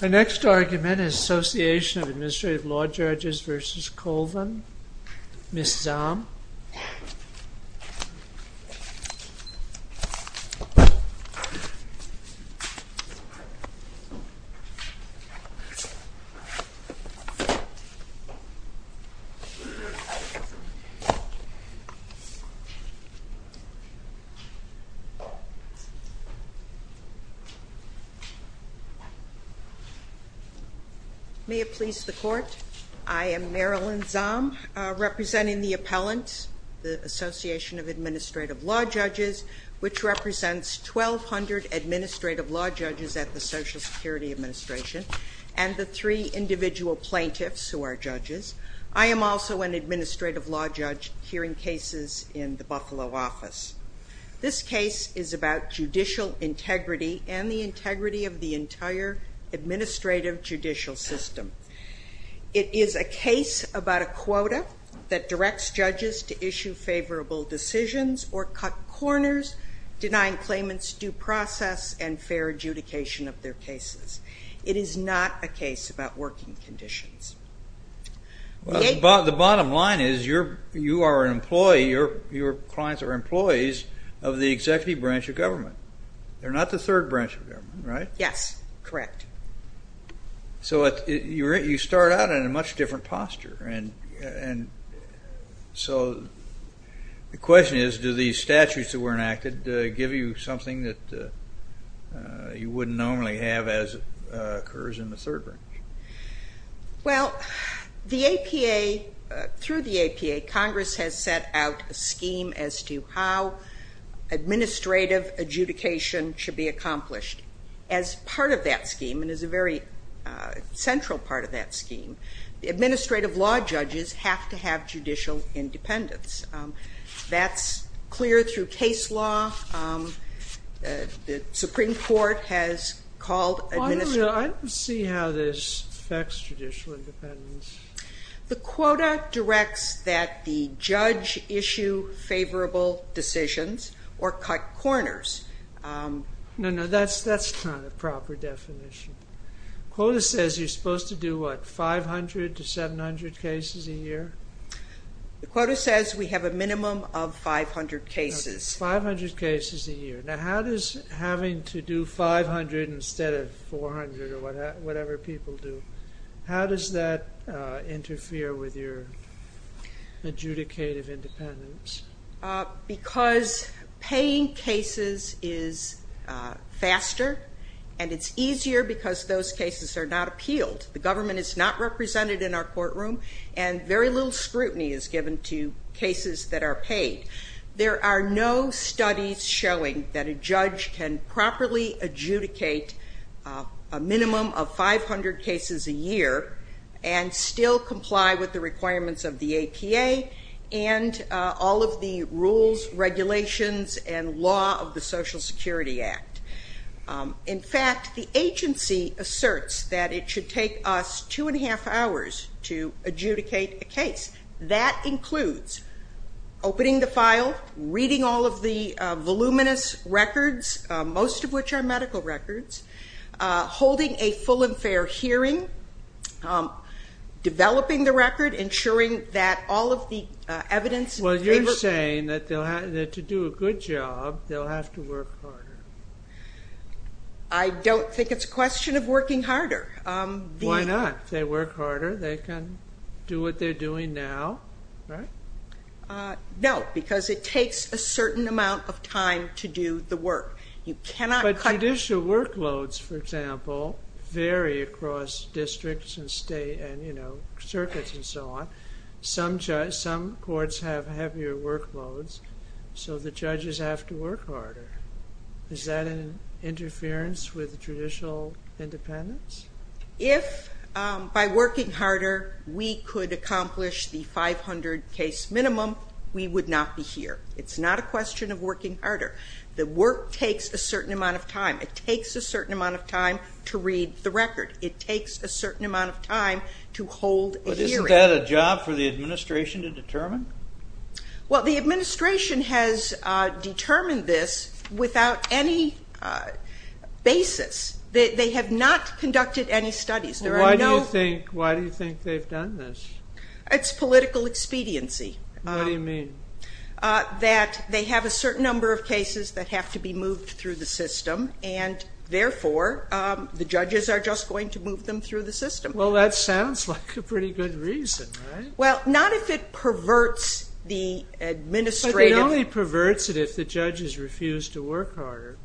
The next argument is Association of Administrative Law Judges v. Colvin, Ms. Zahm. Ms. Zahm May it please the Court, I am Marilyn Zahm representing the Appellant, the Association of Administrative Law Judges, which represents 1,200 Administrative Law Judges at the Social Security Administration and the three individual plaintiffs who are judges. I am also an Administrative Law Judge hearing cases in the Buffalo office. This case is about judicial integrity and the integrity of the entire administrative judicial system. It is a case about a quota that directs judges to issue favorable decisions or cut corners, denying claimants due process and fair adjudication of their cases. It is not a case about working conditions. Judge Goldberg The bottom line is you are an employee, your clients are employees of the executive branch of government. They are not the third branch of government, right? Ms. Zahm Yes, correct. Judge Goldberg So you start out in a much different posture. So the question is, do these statutes that were enacted give you something that you wouldn't normally have as occurs in the third branch? Ms. Zahm Well, through the APA, Congress has set out a scheme as to how administrative adjudication should be accomplished. As part of that scheme and as a very central part of that scheme, the Administrative Law Judges have to have judicial independence. That is clear through case law. The Supreme Court has called Judge Goldberg I don't see how this affects judicial independence. Ms. Zahm The quota directs that the judge issue favorable decisions or cut corners. Judge Goldberg No, that is not a proper definition. The quota says you are supposed to do what, 500 to 700 cases a year? Ms. Zahm The quota says we have a minimum of 500 cases. Judge Goldberg 500 cases a year. Now how does having to do 500 instead of 400 or whatever people do, how does that interfere with your adjudicative independence? Ms. Zahm Because paying cases is faster and it's easier because those cases are not appealed. The government is not represented in our courtroom and very little scrutiny is given to cases that are paid. There are no studies showing that a judge can properly adjudicate a minimum of 500 cases a year and still comply with the requirements of the APA and all of the rules, regulations and law of the Social Security Act. In fact, the agency asserts that it should take us two and a half hours to adjudicate a case. That includes opening the file, reading all of the voluminous records, most of which are medical records, holding a full and fair hearing, developing the record, ensuring that all of the evidence... Judge Goldberg Well, you're saying that to do a good job, they'll have to work harder. Ms. Zahm I don't think it's a question of working harder. Judge Goldberg Why not? If they work harder, they can do what they're doing now, right? Ms. Zahm No, because it takes a certain amount of time to do the work. You cannot cut... Judge Goldberg But judicial workloads, for example, vary across districts and state and circuits and so on. Some courts have heavier workloads so the judges have to work harder. Is that an interference with judicial independence? Ms. Zahm If by working harder we could accomplish the 500 case minimum, we would not be here. It's not a question of working harder. The work takes a certain amount of time. It takes a certain amount of time to read the record. It takes a certain amount of time to hold a hearing. Judge Goldberg But isn't that a job for the administration to determine? Ms. Zahm Well, the administration has determined this without any basis. They have not conducted any studies. Judge Goldberg Why do you think they've done this? Ms. Zahm It's political expediency. Judge Goldberg What do you mean? Ms. Zahm That they have a certain number of cases that have to be moved through the system and therefore the judges are just going to move them through the system. Judge Goldberg Well, that sounds like a pretty good reason, right? Ms. Zahm Well, not if it perverts the administrative... Judge Goldberg If the judges refuse to work harder...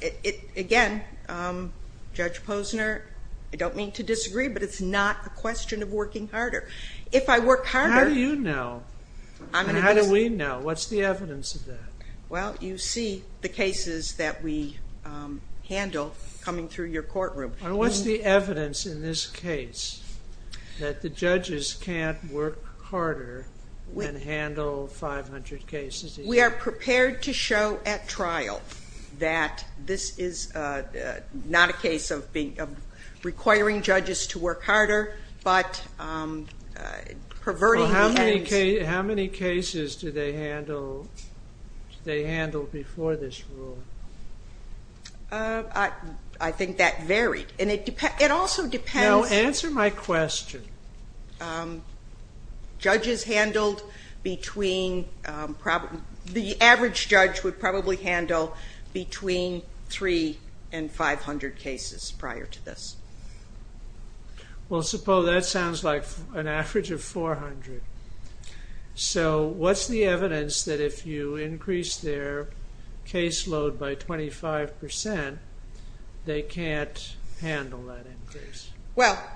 Ms. Zahm Again, Judge Posner, I don't mean to disagree, but it's not a question of working harder. If I work harder... Judge Goldberg How do you know? How do we know? What's the evidence of that? Ms. Zahm Well, you see the cases that we handle coming through your courtroom. Judge Goldberg What's the evidence in this case that the judges can't work harder and handle 500 cases a year? Ms. Zahm We are prepared to show at trial that this is not a case of requiring judges to work harder, but perverting the heads... Judge Goldberg How many cases do they handle before this rule? Ms. Zahm I think that varied. It also depends... Judge Goldberg Now, answer my question. Ms. Zahm The average judge would probably handle between 300 and 500 cases prior to this. Judge Goldberg Well, suppose that sounds like an average of 400. So, what's the evidence that if you increase their case load by 25 percent, they can't handle that increase? Ms. Zahm Well,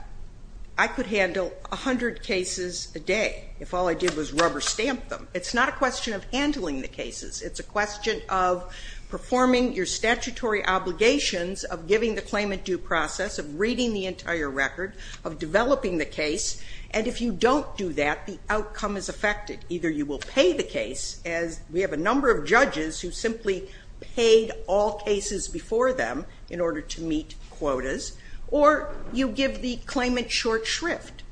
I could handle 100 cases a day if all I did was rubber stamp them. It's not a question of handling the cases. It's a question of performing your statutory obligations of giving the claimant due process, of reading the entire record, of developing the case. And if you don't do that, the outcome is affected. Either you will pay the case, as we have a number of judges who simply paid all cases before them in order to meet quotas, or you give the claimant short shrift.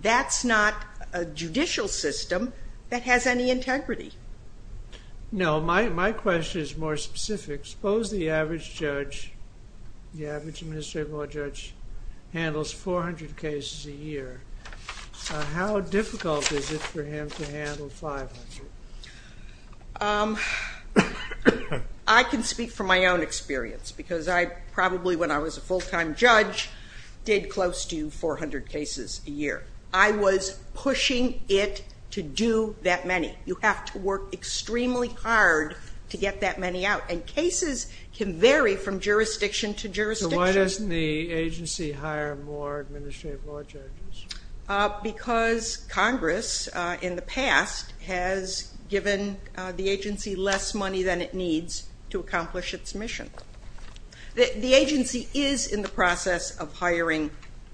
That's not a judicial system that has any integrity. Judge Goldberg No, my question is more specific. Suppose the average judge, the average administrative law judge, handles 400 cases a year. How difficult is it for him to handle 500? Ms. Zahm I can speak from my own experience, because I probably, when I was a full-time judge, did close to 400 cases a year. I was pushing it to do that many. You have to work extremely hard to get that many out. And cases can vary from jurisdiction to jurisdiction. Judge Goldberg So why doesn't the agency hire more administrative law judges? Ms. Zahm Because Congress, in the past, has given the agency less money than it needs to accomplish its mission. The agency is in the process of hiring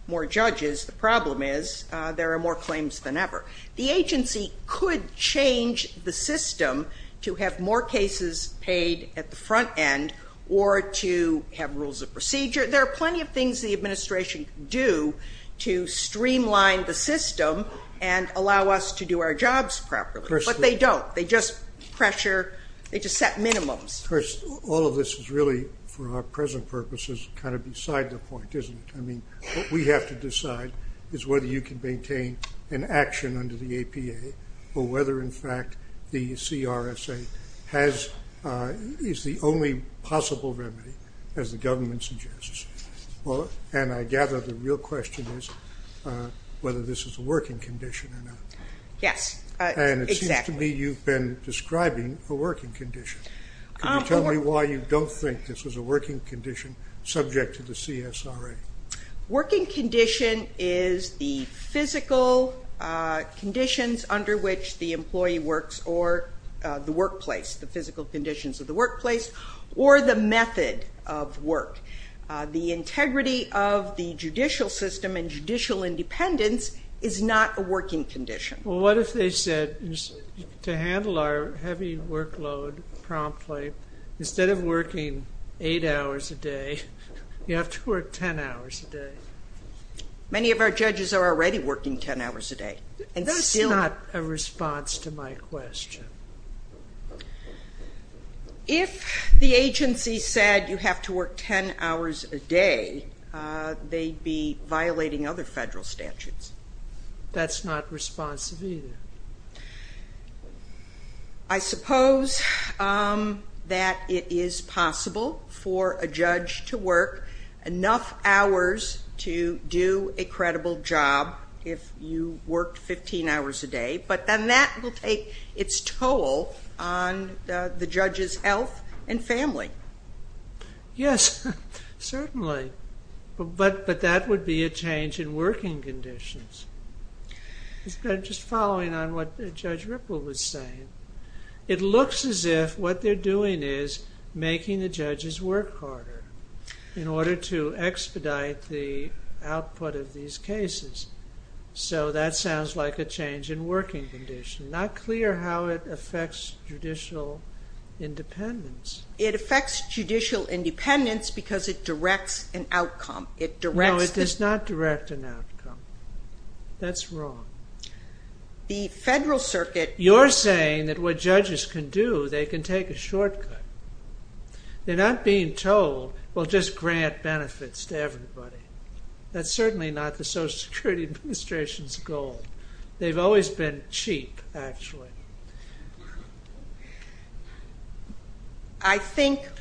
more judges. The problem is there are more claims than ever. The agency could change the system to have more cases paid at the front end, or to have rules of procedure. There are plenty of things the administration can do to streamline the system and allow us to do our jobs properly, but they don't. They just pressure, they just set minimums. Judge Goldberg Of course, all of this is really, for our present purposes, kind of beside the point, isn't it? I mean, what we have to decide is whether you can maintain an action under the APA, or whether, in fact, the CRSA is the only possible remedy, as the government suggests. And I gather the real question is whether this is a working condition or not. Ms. Zahm Yes, exactly. Judge Goldberg And it seems to me you've been describing a working condition. Can you tell me why you don't think this is a working condition subject to the CSRA? Ms. Zahm Working condition is the physical conditions under which the employee works, or the workplace, the physical conditions of the workplace, or the method of work. The integrity of the judicial system and judicial independence is not a working condition. Judge Goldberg Well, what if they said, to handle our heavy workload promptly, instead of working eight hours a day, you have to work ten hours a day? Ms. Zahm Many of our judges are already working ten hours a day. Judge Goldberg That's not a response to my question. Ms. Zahm If the agency said you have to work ten hours a day, they'd be violating other federal statutes. Judge Goldberg That's not responsive either. Ms. Zahm I suppose that it is possible for a judge to work enough hours to do a credible job if you work 15 hours a day, but then that will take its toll on the judge's health and family. Judge Goldberg Yes, certainly, but that would be a change in working conditions. Just following on what Judge Ripple was saying, it looks as if what they're doing is making the judges work harder in order to expedite the output of these cases. So that sounds like a change in working conditions. Not clear how it affects judicial independence. Ms. Zahm It affects judicial independence because it directs an outcome. Judge Goldberg No, it does not direct an outcome. That's wrong. Ms. Zahm The federal circuit they can take a shortcut. They're not being told, well, just grant benefits to everybody. That's certainly not the Social Security Administration's goal. They've always been cheap, actually.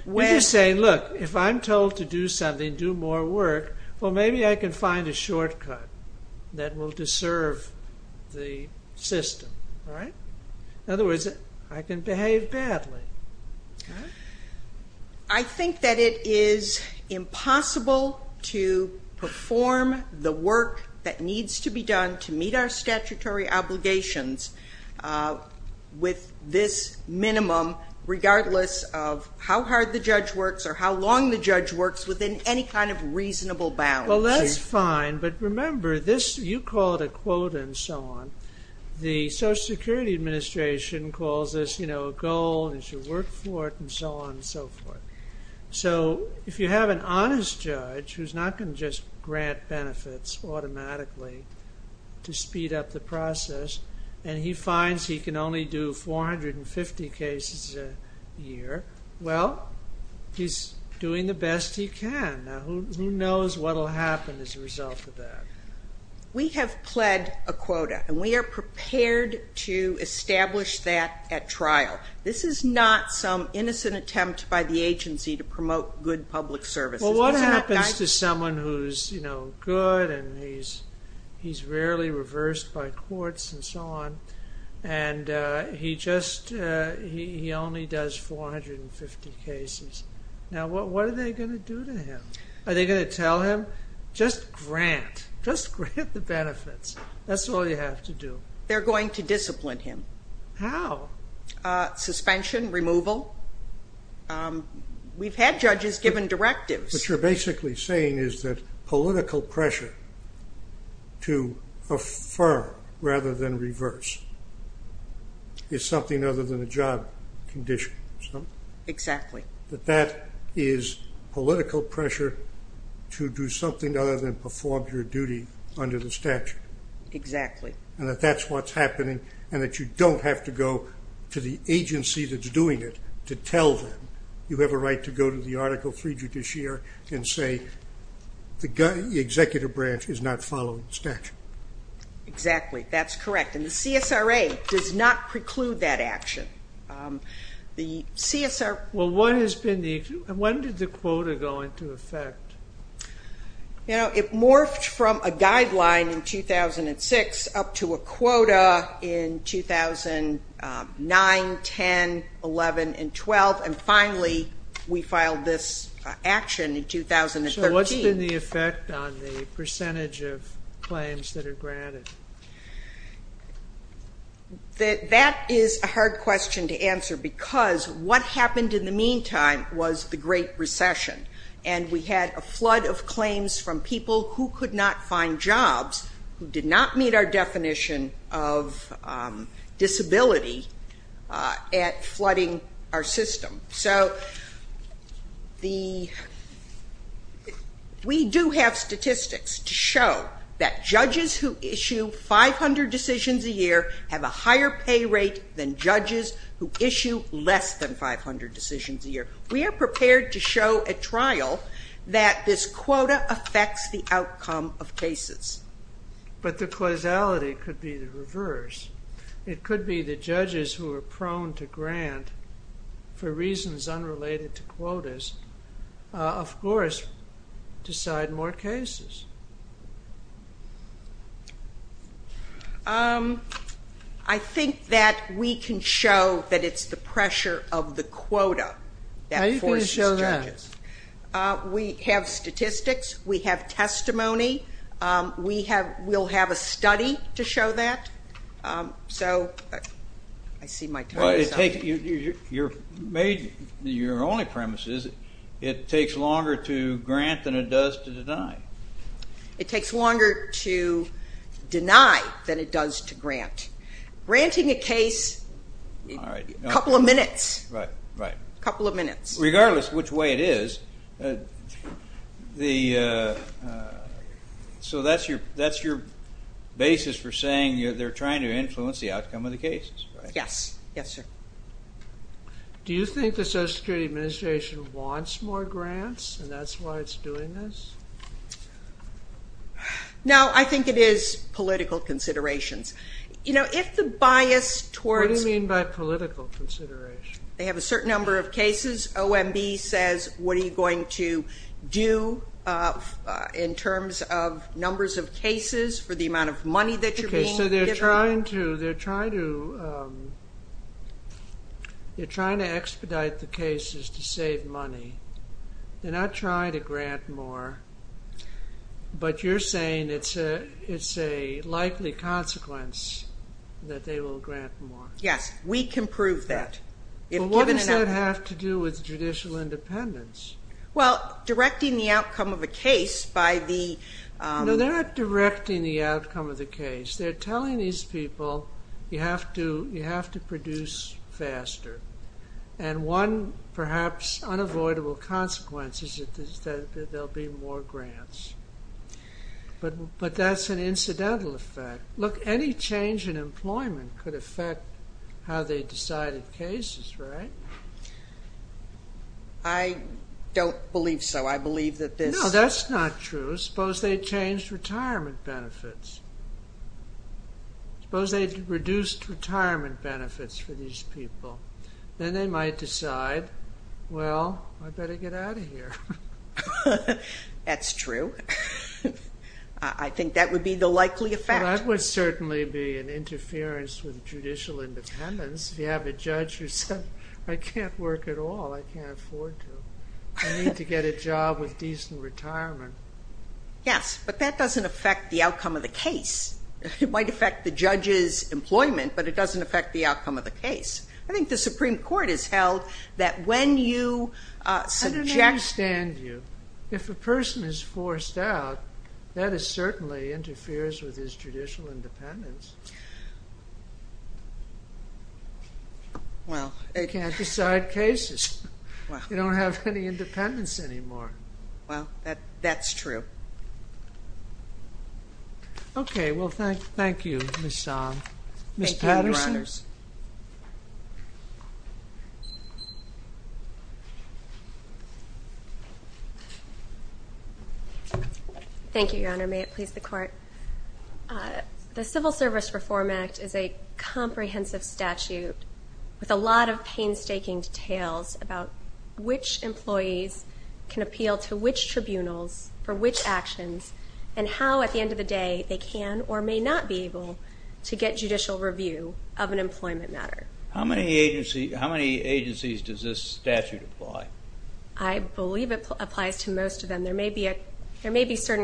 We're just saying, look, if I'm told to do something, do more work, well, maybe I can find a shortcut that will deserve the system. In other words, I can behave badly. Ms. Zahm I think that it is impossible to perform the work that needs to be done to meet our statutory obligations with this minimum, regardless of how hard the judge works or how long the judge works, within any kind of reasonable bounds. Judge Goldberg Well, that's fine, but remember, you call it a quota and so on. The Social Security Administration calls this a goal and you should work for it and so on and so forth. So if you have an honest judge who's not going to just grant benefits automatically to speed up the process and he finds he can only do 450 cases a year, well, he's doing the best he can. Now, who knows what will happen as a result of that? Ms. Zahm We have pled a quota and we are prepared to establish that at trial. It's not some innocent attempt by the agency to promote good public services. Judge Goldberg Well, what happens to someone who's good and he's rarely reversed by courts and so on and he only does 450 cases? Now, what are they going to do to him? Are they going to tell him, just grant, just grant the benefits. That's all you have to do. Ms. Zahm They're going to discipline him. Judge Goldberg How? Ms. Zahm Suspension, removal. We've had judges given directives. Judge Goldberg What you're basically saying is that political pressure to affirm rather than reverse is something other than a job condition. Ms. Zahm Exactly. Judge Goldberg That is political pressure to do something other than perform your duty under the statute. Ms. Zahm Exactly. Judge Goldberg And that that's what's happening and that you don't have to go to the agency that's doing it to tell them you have a right to go to the Article III Judiciary and say the executive branch is not following the statute. Ms. Zahm Exactly. That's correct. And the CSRA does not preclude that action. Judge Goldberg Well, when did the quota go into effect? Ms. Zahm You know, it morphed from a guideline in 2006 up to a quota in 2009, 10, 11 and 12 and finally we filed this action in 2013. Judge Goldberg So what's been the effect on the percentage of claims that are granted? Ms. Zahm That is a hard question to answer because what happened in the meantime was the Great Recession and we had a flood of claims from people who could not find jobs who did not meet our definition of disability at flooding our system. So we do have statistics to show that judges who issue 500 decisions a year have a higher pay rate than judges who issue less than 500 decisions a year. We are prepared to show at trial that this quota affects the outcome of cases. Judge Goldberg But the causality could be the reverse. It could be the judges who are prone to grant for reasons unrelated to quotas of course decide more cases. Ms. Zahm I think that we can show that it's the pressure of the quota that forces judges. We have statistics. We have testimony. We'll have a study to show that. So I see my time is up. Judge Goldberg Your only premise is it takes longer to grant than it does to deny. Ms. Zahm It takes longer to deny than it does to grant. Granting a case, a couple of minutes. A couple of minutes. Judge Goldberg Regardless which way it is, the, so that's your, that's your basis for saying the outcome of the cases. Ms. Zahm Yes, yes sir. Judge Goldberg Do you think the Social Security Administration wants more grants and that's why it's doing this? Ms. Zahm No, I think it is political considerations. You know, if the bias towards Judge Goldberg What do you mean by political consideration? Ms. Zahm They have a certain number of cases. OMB says what are you going to do in terms of numbers of cases for the amount of money that you're being given. Judge Goldberg So they're trying to, they're trying to, they're trying to expedite the cases to save money. They're not trying to grant more. But you're saying it's a, it's a likely consequence that they will grant more. Ms. Zahm Yes, we can prove that. If given enough Judge Goldberg What does that have to do with judicial independence? Ms. Zahm Well, directing the outcome of a case by the Judge Goldberg No, they're not directing the outcome of the case. They're telling these people you have to, you have to produce faster. And one perhaps unavoidable consequence is that there will be more grants. But, but that's an incidental effect. Look, any change in employment could affect how they decided cases, right? Ms. Zahm I don't believe so. I believe that this Judge Goldberg No, that's not true. Suppose they changed retirement benefits. Suppose they reduced retirement benefits for these people. Then they might decide well, I better get out of here. Ms. Zahm That's true. I think that would be the likely effect. Judge Goldberg That would certainly be an interference with judicial independence. You have a judge who said I can't work at all. I can't afford to. I need to get a job with decent retirement. Ms. Zahm Yes, but that doesn't affect the outcome of the case. It might affect the judge's employment but it doesn't affect the outcome of the case. I think the Supreme Court has held that when you subject Judge Goldberg I don't understand you. If a person is forced out that certainly interferes with his judicial independence. You can't decide cases. You don't have anymore. Ms. Zahm Well, that's true. well thank you Ms. Zahm. Ms. Patterson Thank you, Your Honors. The Civil Service Reform Act is a comprehensive statute with a lot of painstaking details about which employees can appeal to which tribunals for which actions and how at the end of the day they can or may not be able to get judicial review of an employment matter. How many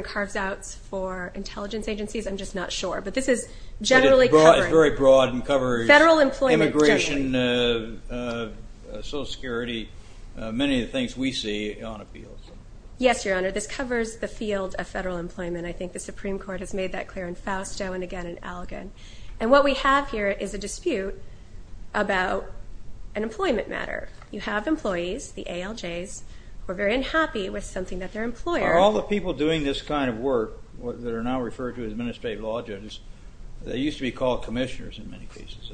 carves-outs for intelligence agencies I'm just not sure but this is generally covered. employment, social security, many of the things we see on appeals. Ms. Zahm Yes, Your Honor. This covers the field of federal employment. I think the Supreme Court has made that clear in Fausto and again and what we have here is a dispute about an employment matter. You have employees, the ALJs, who are very unhappy with something that their employer All the people doing this kind of work that are now referred to as administrative law judges, they used to be called commissioners in many cases.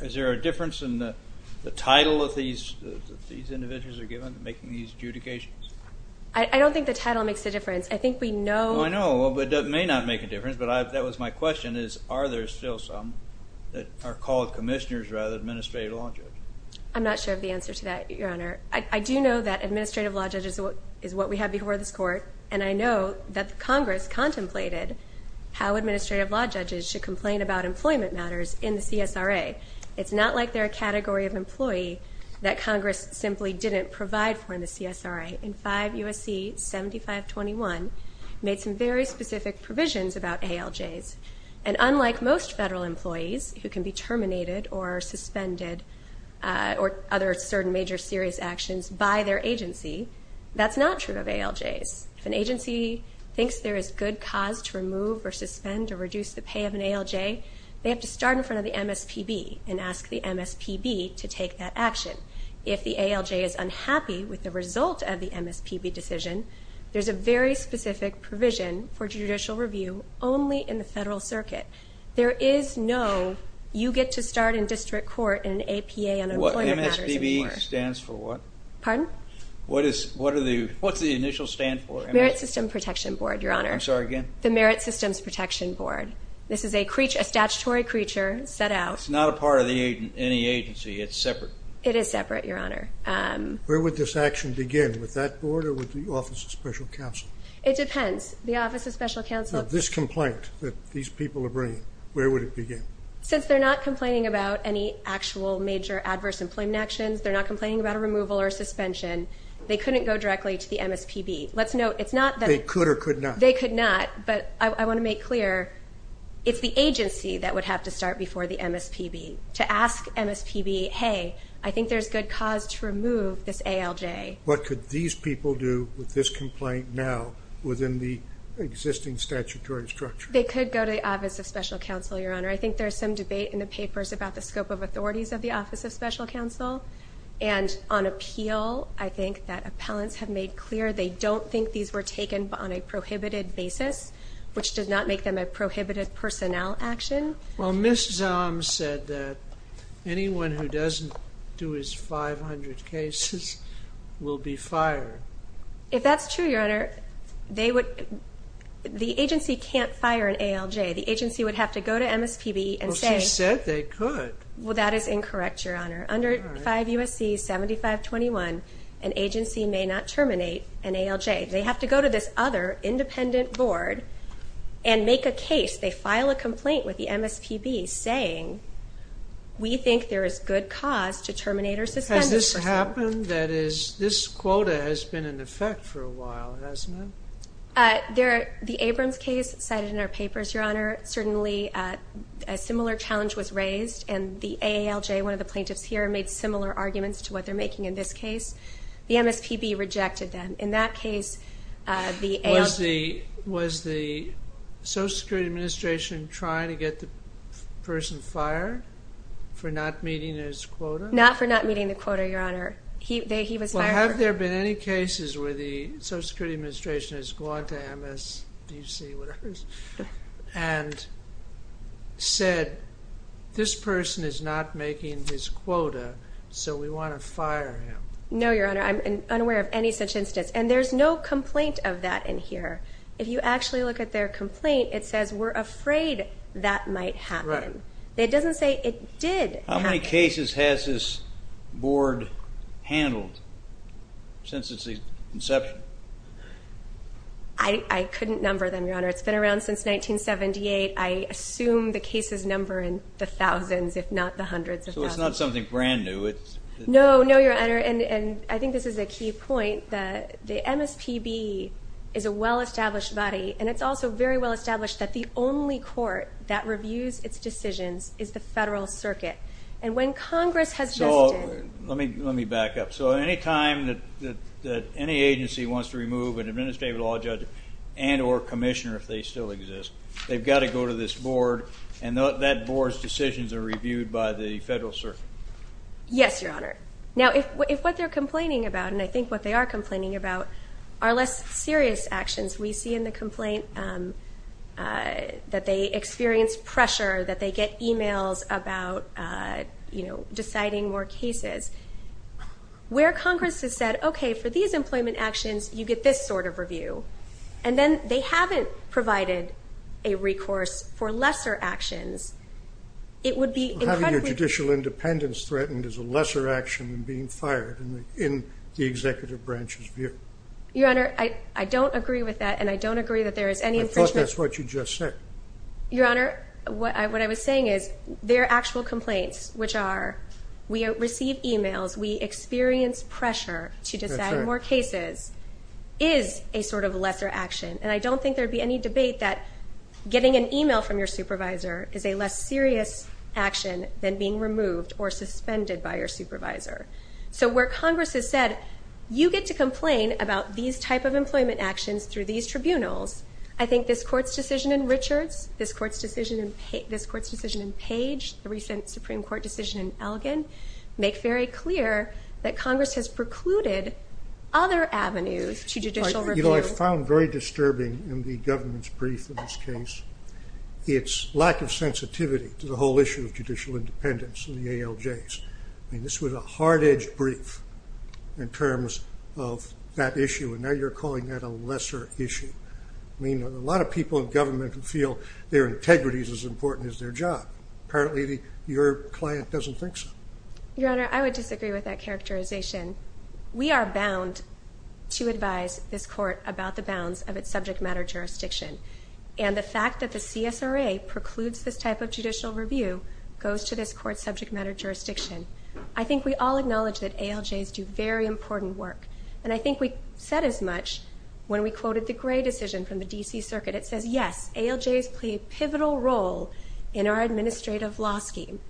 Is there a difference in the administrative I know that may not make a difference, but that was my question is are there still some that are commissioners rather than administrative law judges? Ms. Zahm I'm not sure of the answer to that, Your Honor. I do know that administrative law judges is what we have before this court, and I know that Congress contemplated how administrative law judges should complain about employment matters in the CSRA. It's not like they're a category of employee that Congress simply didn't provide for in the CSRA. In 5 U.S.C. 7521, made some very specific provisions about ALJs, and unlike most federal employees, who can be ALJs, if an agency thinks there is good cause to remove or suspend or reduce the pay of an ALJ, they have to start in front of the MSPB and ask the MSPB to take that action. If the ALJ is unhappy with the result of the MSPB decision, there's a very specific provision for judicial compliance with the MSPB. compliance with the MSPB decision. The MSPB has a very specific provision for judicial compliance with the MSPB They could or could not. They could not, but I want to make clear it's the agency that would have to start before the MSPB to ask MSPB hey, I think there's good cause to remove this ALJ. What could these people do with this complaint now within the existing statutory structure? They could go to the office of special counsel, your honor. I think there's some debate in the papers about the scope of authorities of the office of special counsel and on appeal I think that appellants have made clear they don't think these were taken on a prohibited basis which did not make them a prohibited personnel action. Well, Ms. Zahm said that anyone who doesn't do his 500 cases will be fired. If that's true, your honor, they would the agency can't fire an ALJ. The agency would have to go to MSPB and say Well, she said they could. Well, that is incorrect, your honor. Under 5 U.S.C. 7521, an agency may not terminate an ALJ. They have to go to this other independent board and make a case. They file a complaint with the MSPB saying we think there is good cause to terminate or suspend. Has this happened? That is, this quota has been in effect for a while, hasn't it? The Abrams case cited in our papers, your honor, certainly a similar challenge was raised and the Social Security Administration trying to get the person fired for not meeting his quota? Not for not meeting the quota, your honor. Well, have there been any cases where the Social Security Administration has gone to MSDC and said this person is not making his quota so we want to look at their complaint. It says we're afraid that might happen. It doesn't say it did. How many cases has this board handled since its inception? I couldn't number them, your honor. It's been around since 1978. I assume the cases number in the thousands if not hundreds. So it's not something brand new? No, your honor. I think this is a key point. The MSPB is a well established body and it's also very well established that the only court that reviews its decisions is the Federal Circuit. Let me back up. Any time any agency wants to remove an employee from the Federal Circuit? Yes, your honor. Now, if what they're complaining about, and I think what they are complaining about, are less serious actions. We see in the complaint that they experience pressure, that they get emails about, you know, deciding more cases. Where Congress has said, okay, for these employment actions, you get this sort of review, and then they haven't provided a recourse for lesser actions, it would be incredibly... Having a judicial independence threatened is a lesser action than being fired, in the executive branch's view. Your honor, I don't agree with that, and I don't agree that there is any infringement. I thought that's what you just said. Your honor, what I was saying is, their actual complaints, which are, we receive emails, we experience pressure to decide more cases, is a sort of lesser action, and I don't think there'd be any debate that getting an email from your supervisor is a less serious action than being fired. and I any legal action that could be taken to make very clear that Congress has precluded other avenues to judicial review. Your Honor, I would disagree with that characterization. We are bound to advise this Court about the bounds of its subject matter jurisdiction. And the fact that the CSRA precludes this type of judicial review goes to this Court's subject matter jurisdiction. I think we all acknowledge that ALJs do very important work. And I think we said as much when we quoted the Gray decision from the D.C. Circuit. It says, yes, ALJs play a pivotal role in our administrative law scheme.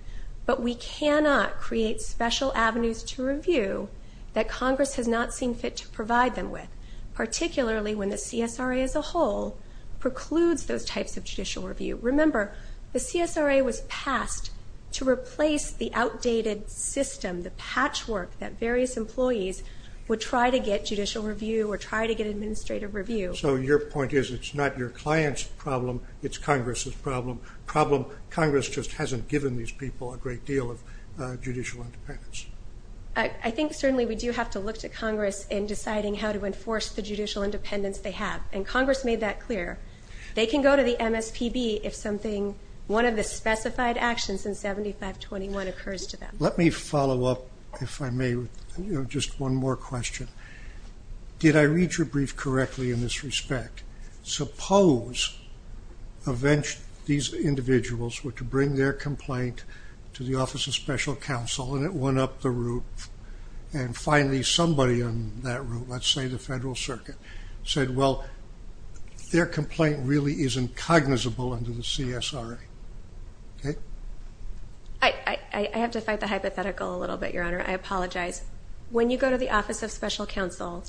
But we cannot create special avenues to review that Congress has not seen fit to provide them with, particularly when the CSRA as a whole precludes those types of judicial review. Remember, the CSRA was passed to replace the outdated system, the patchwork that various employees would try to get judicial review or try to get administrative review. So your point is, it's not your client's problem, it's Congress's problem. Congress just hasn't given these people a great deal of judicial independence. I think certainly we do have to look to Congress in deciding how to enforce the judicial independence they have. And Congress made that clear. They can go to the MSPB if something, one of the specified actions in 7521 occurs to them. Let me follow up, if I may, with just one more question. Did I read your brief correctly in this respect? Suppose these individuals were to bring their complaint to the Office of Special Counsel and it went up the roof and finally somebody on that roof let's say the Federal Circuit said, well, their complaint really is incognizable under the CSRA. I have to fight the hypothetical a little bit, Your Honor. I apologize. When you go to the Office of Special Counsel,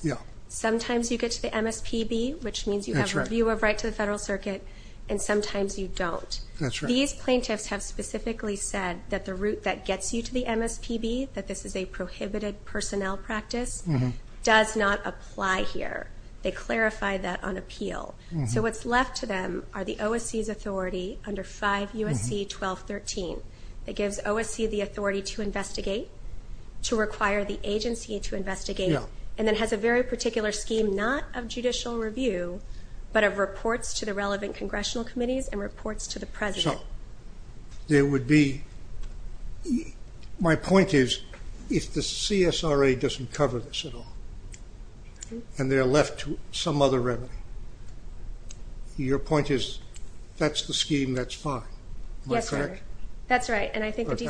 sometimes you get to the MSPB, which means you have a view of right to the Federal Circuit and sometimes you don't. These plaintiffs have specifically said that the route that gets you to the MSPB, that this is a prohibited personnel practice, does not apply here. They clarify that on appeal. So what's left to them are the OSC's authority under 5 U.S.C. 1213 that gives OSC the authority to investigate, to require the agency to investigate and then has a very particular scheme not of judicial review but of reports to the relevant Congressional Committees and reports to the President. So, there would be my point is, if the CSRA doesn't cover this at all and they're left to some other remedy, your point is, that's the scheme that's fine, am I correct? That's right. I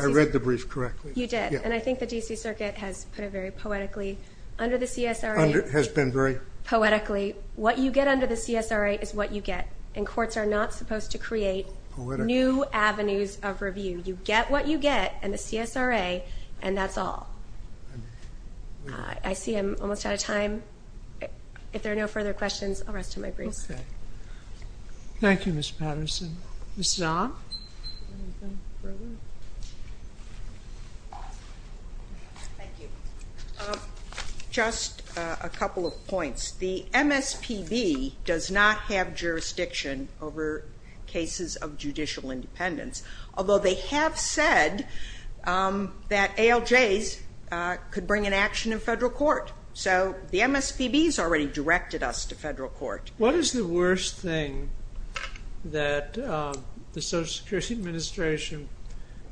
read the brief correctly. You did. And I think the D.C. Circuit has put it very poetically under the CSRA. Poetically, what you get under the CSRA is what you get and courts are not supposed to create new avenues of review. You get what you get in the CSRA and that's all. I see I'm almost out of time. If there are no further questions, I'll rest to my briefs. Thank you, Ms. Patterson. Ms. Zahn? Thank you. Just a couple of points. The MSPB does not have jurisdiction over cases of judicial independence, although they have said that ALJs could bring an action in federal court. So, the MSPB has already directed us to federal court. What is the worst thing that the Social Security Administration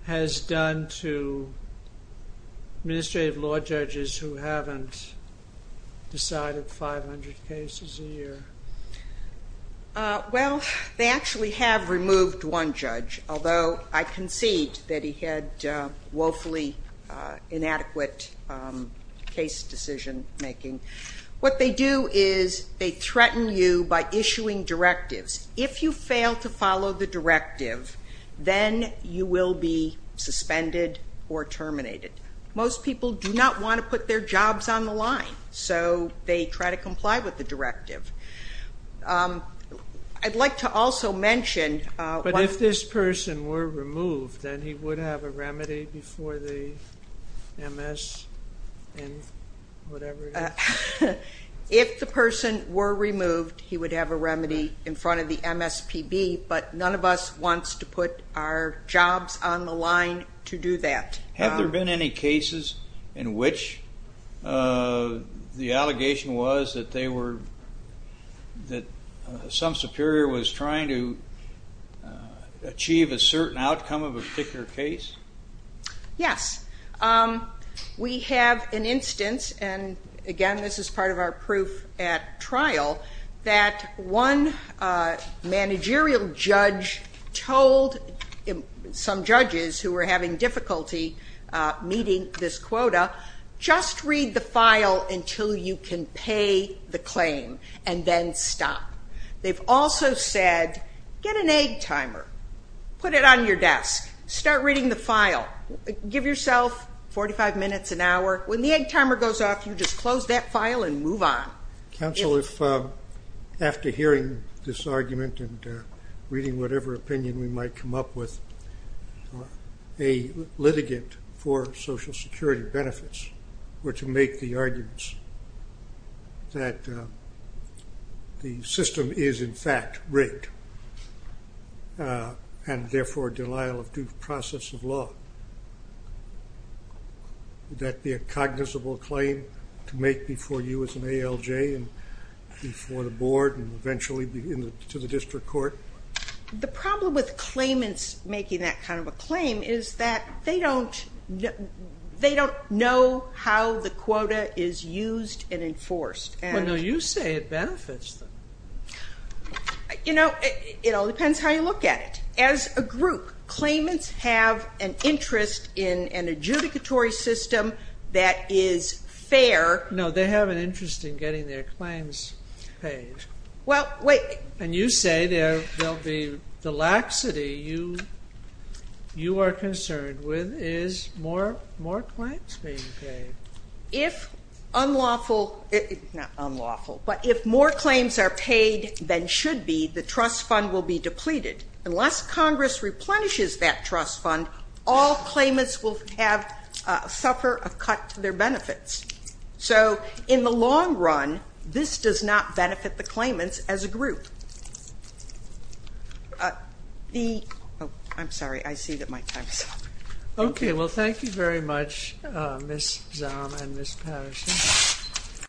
has done to administrative law judges who haven't decided 500 cases a year? Well, they actually have removed one judge, although I concede that he had woefully inadequate case decision making. What they do is directives. If you fail to follow the directive, then you will be suspended or terminated. Most people do not want to put their jobs on the line, so they try to comply with the directive. I'd like to also mention... But if this person were removed, then he would have a remedy before the MS and whatever it is? If the person were removed, he would have a remedy in front of the MSPB, but none of us wants to put our jobs on the line to do that. Have there been any cases in which the allegation was that they were that some superior was trying to achieve a certain outcome of a particular case? Yes. We have an instance and again, this is part of our proof at trial that one managerial judge told some judges who were having difficulty meeting this quota just read the file until you can pay the claim and then stop. They've also said get an egg timer. Put it on your desk. Start reading the file. Give yourself 45 minutes, an hour. When the egg timer goes off, you just close that file and move on. Counsel, if after hearing this argument and reading whatever opinion we might come up with, a litigant for social security benefits were to make the arguments that the system is in fact rigged and therefore denial of due process of law. Would that be a cognizable claim to make before you as an ALJ and before the board and eventually to the district court? The problem with claimants making that kind of a claim is that they don't know how the quota is used and enforced. You say it benefits them. You know, it all depends how you look at it. As a group, claimants have an interest in an adjudicatory system that is fair. No, they have an interest in getting their claims paid. And you say the laxity you are concerned with is more claims being paid. If unlawful not unlawful, but if more claims are paid than should be, the trust fund will be depleted. Unless Congress replenishes that trust fund, all claimants will suffer a cut to their benefits. So in the long run, this does not benefit the claimants as a group. I'm sorry, I see that my time is up. Thank you very much Ms. Zahm and Ms. Patterson.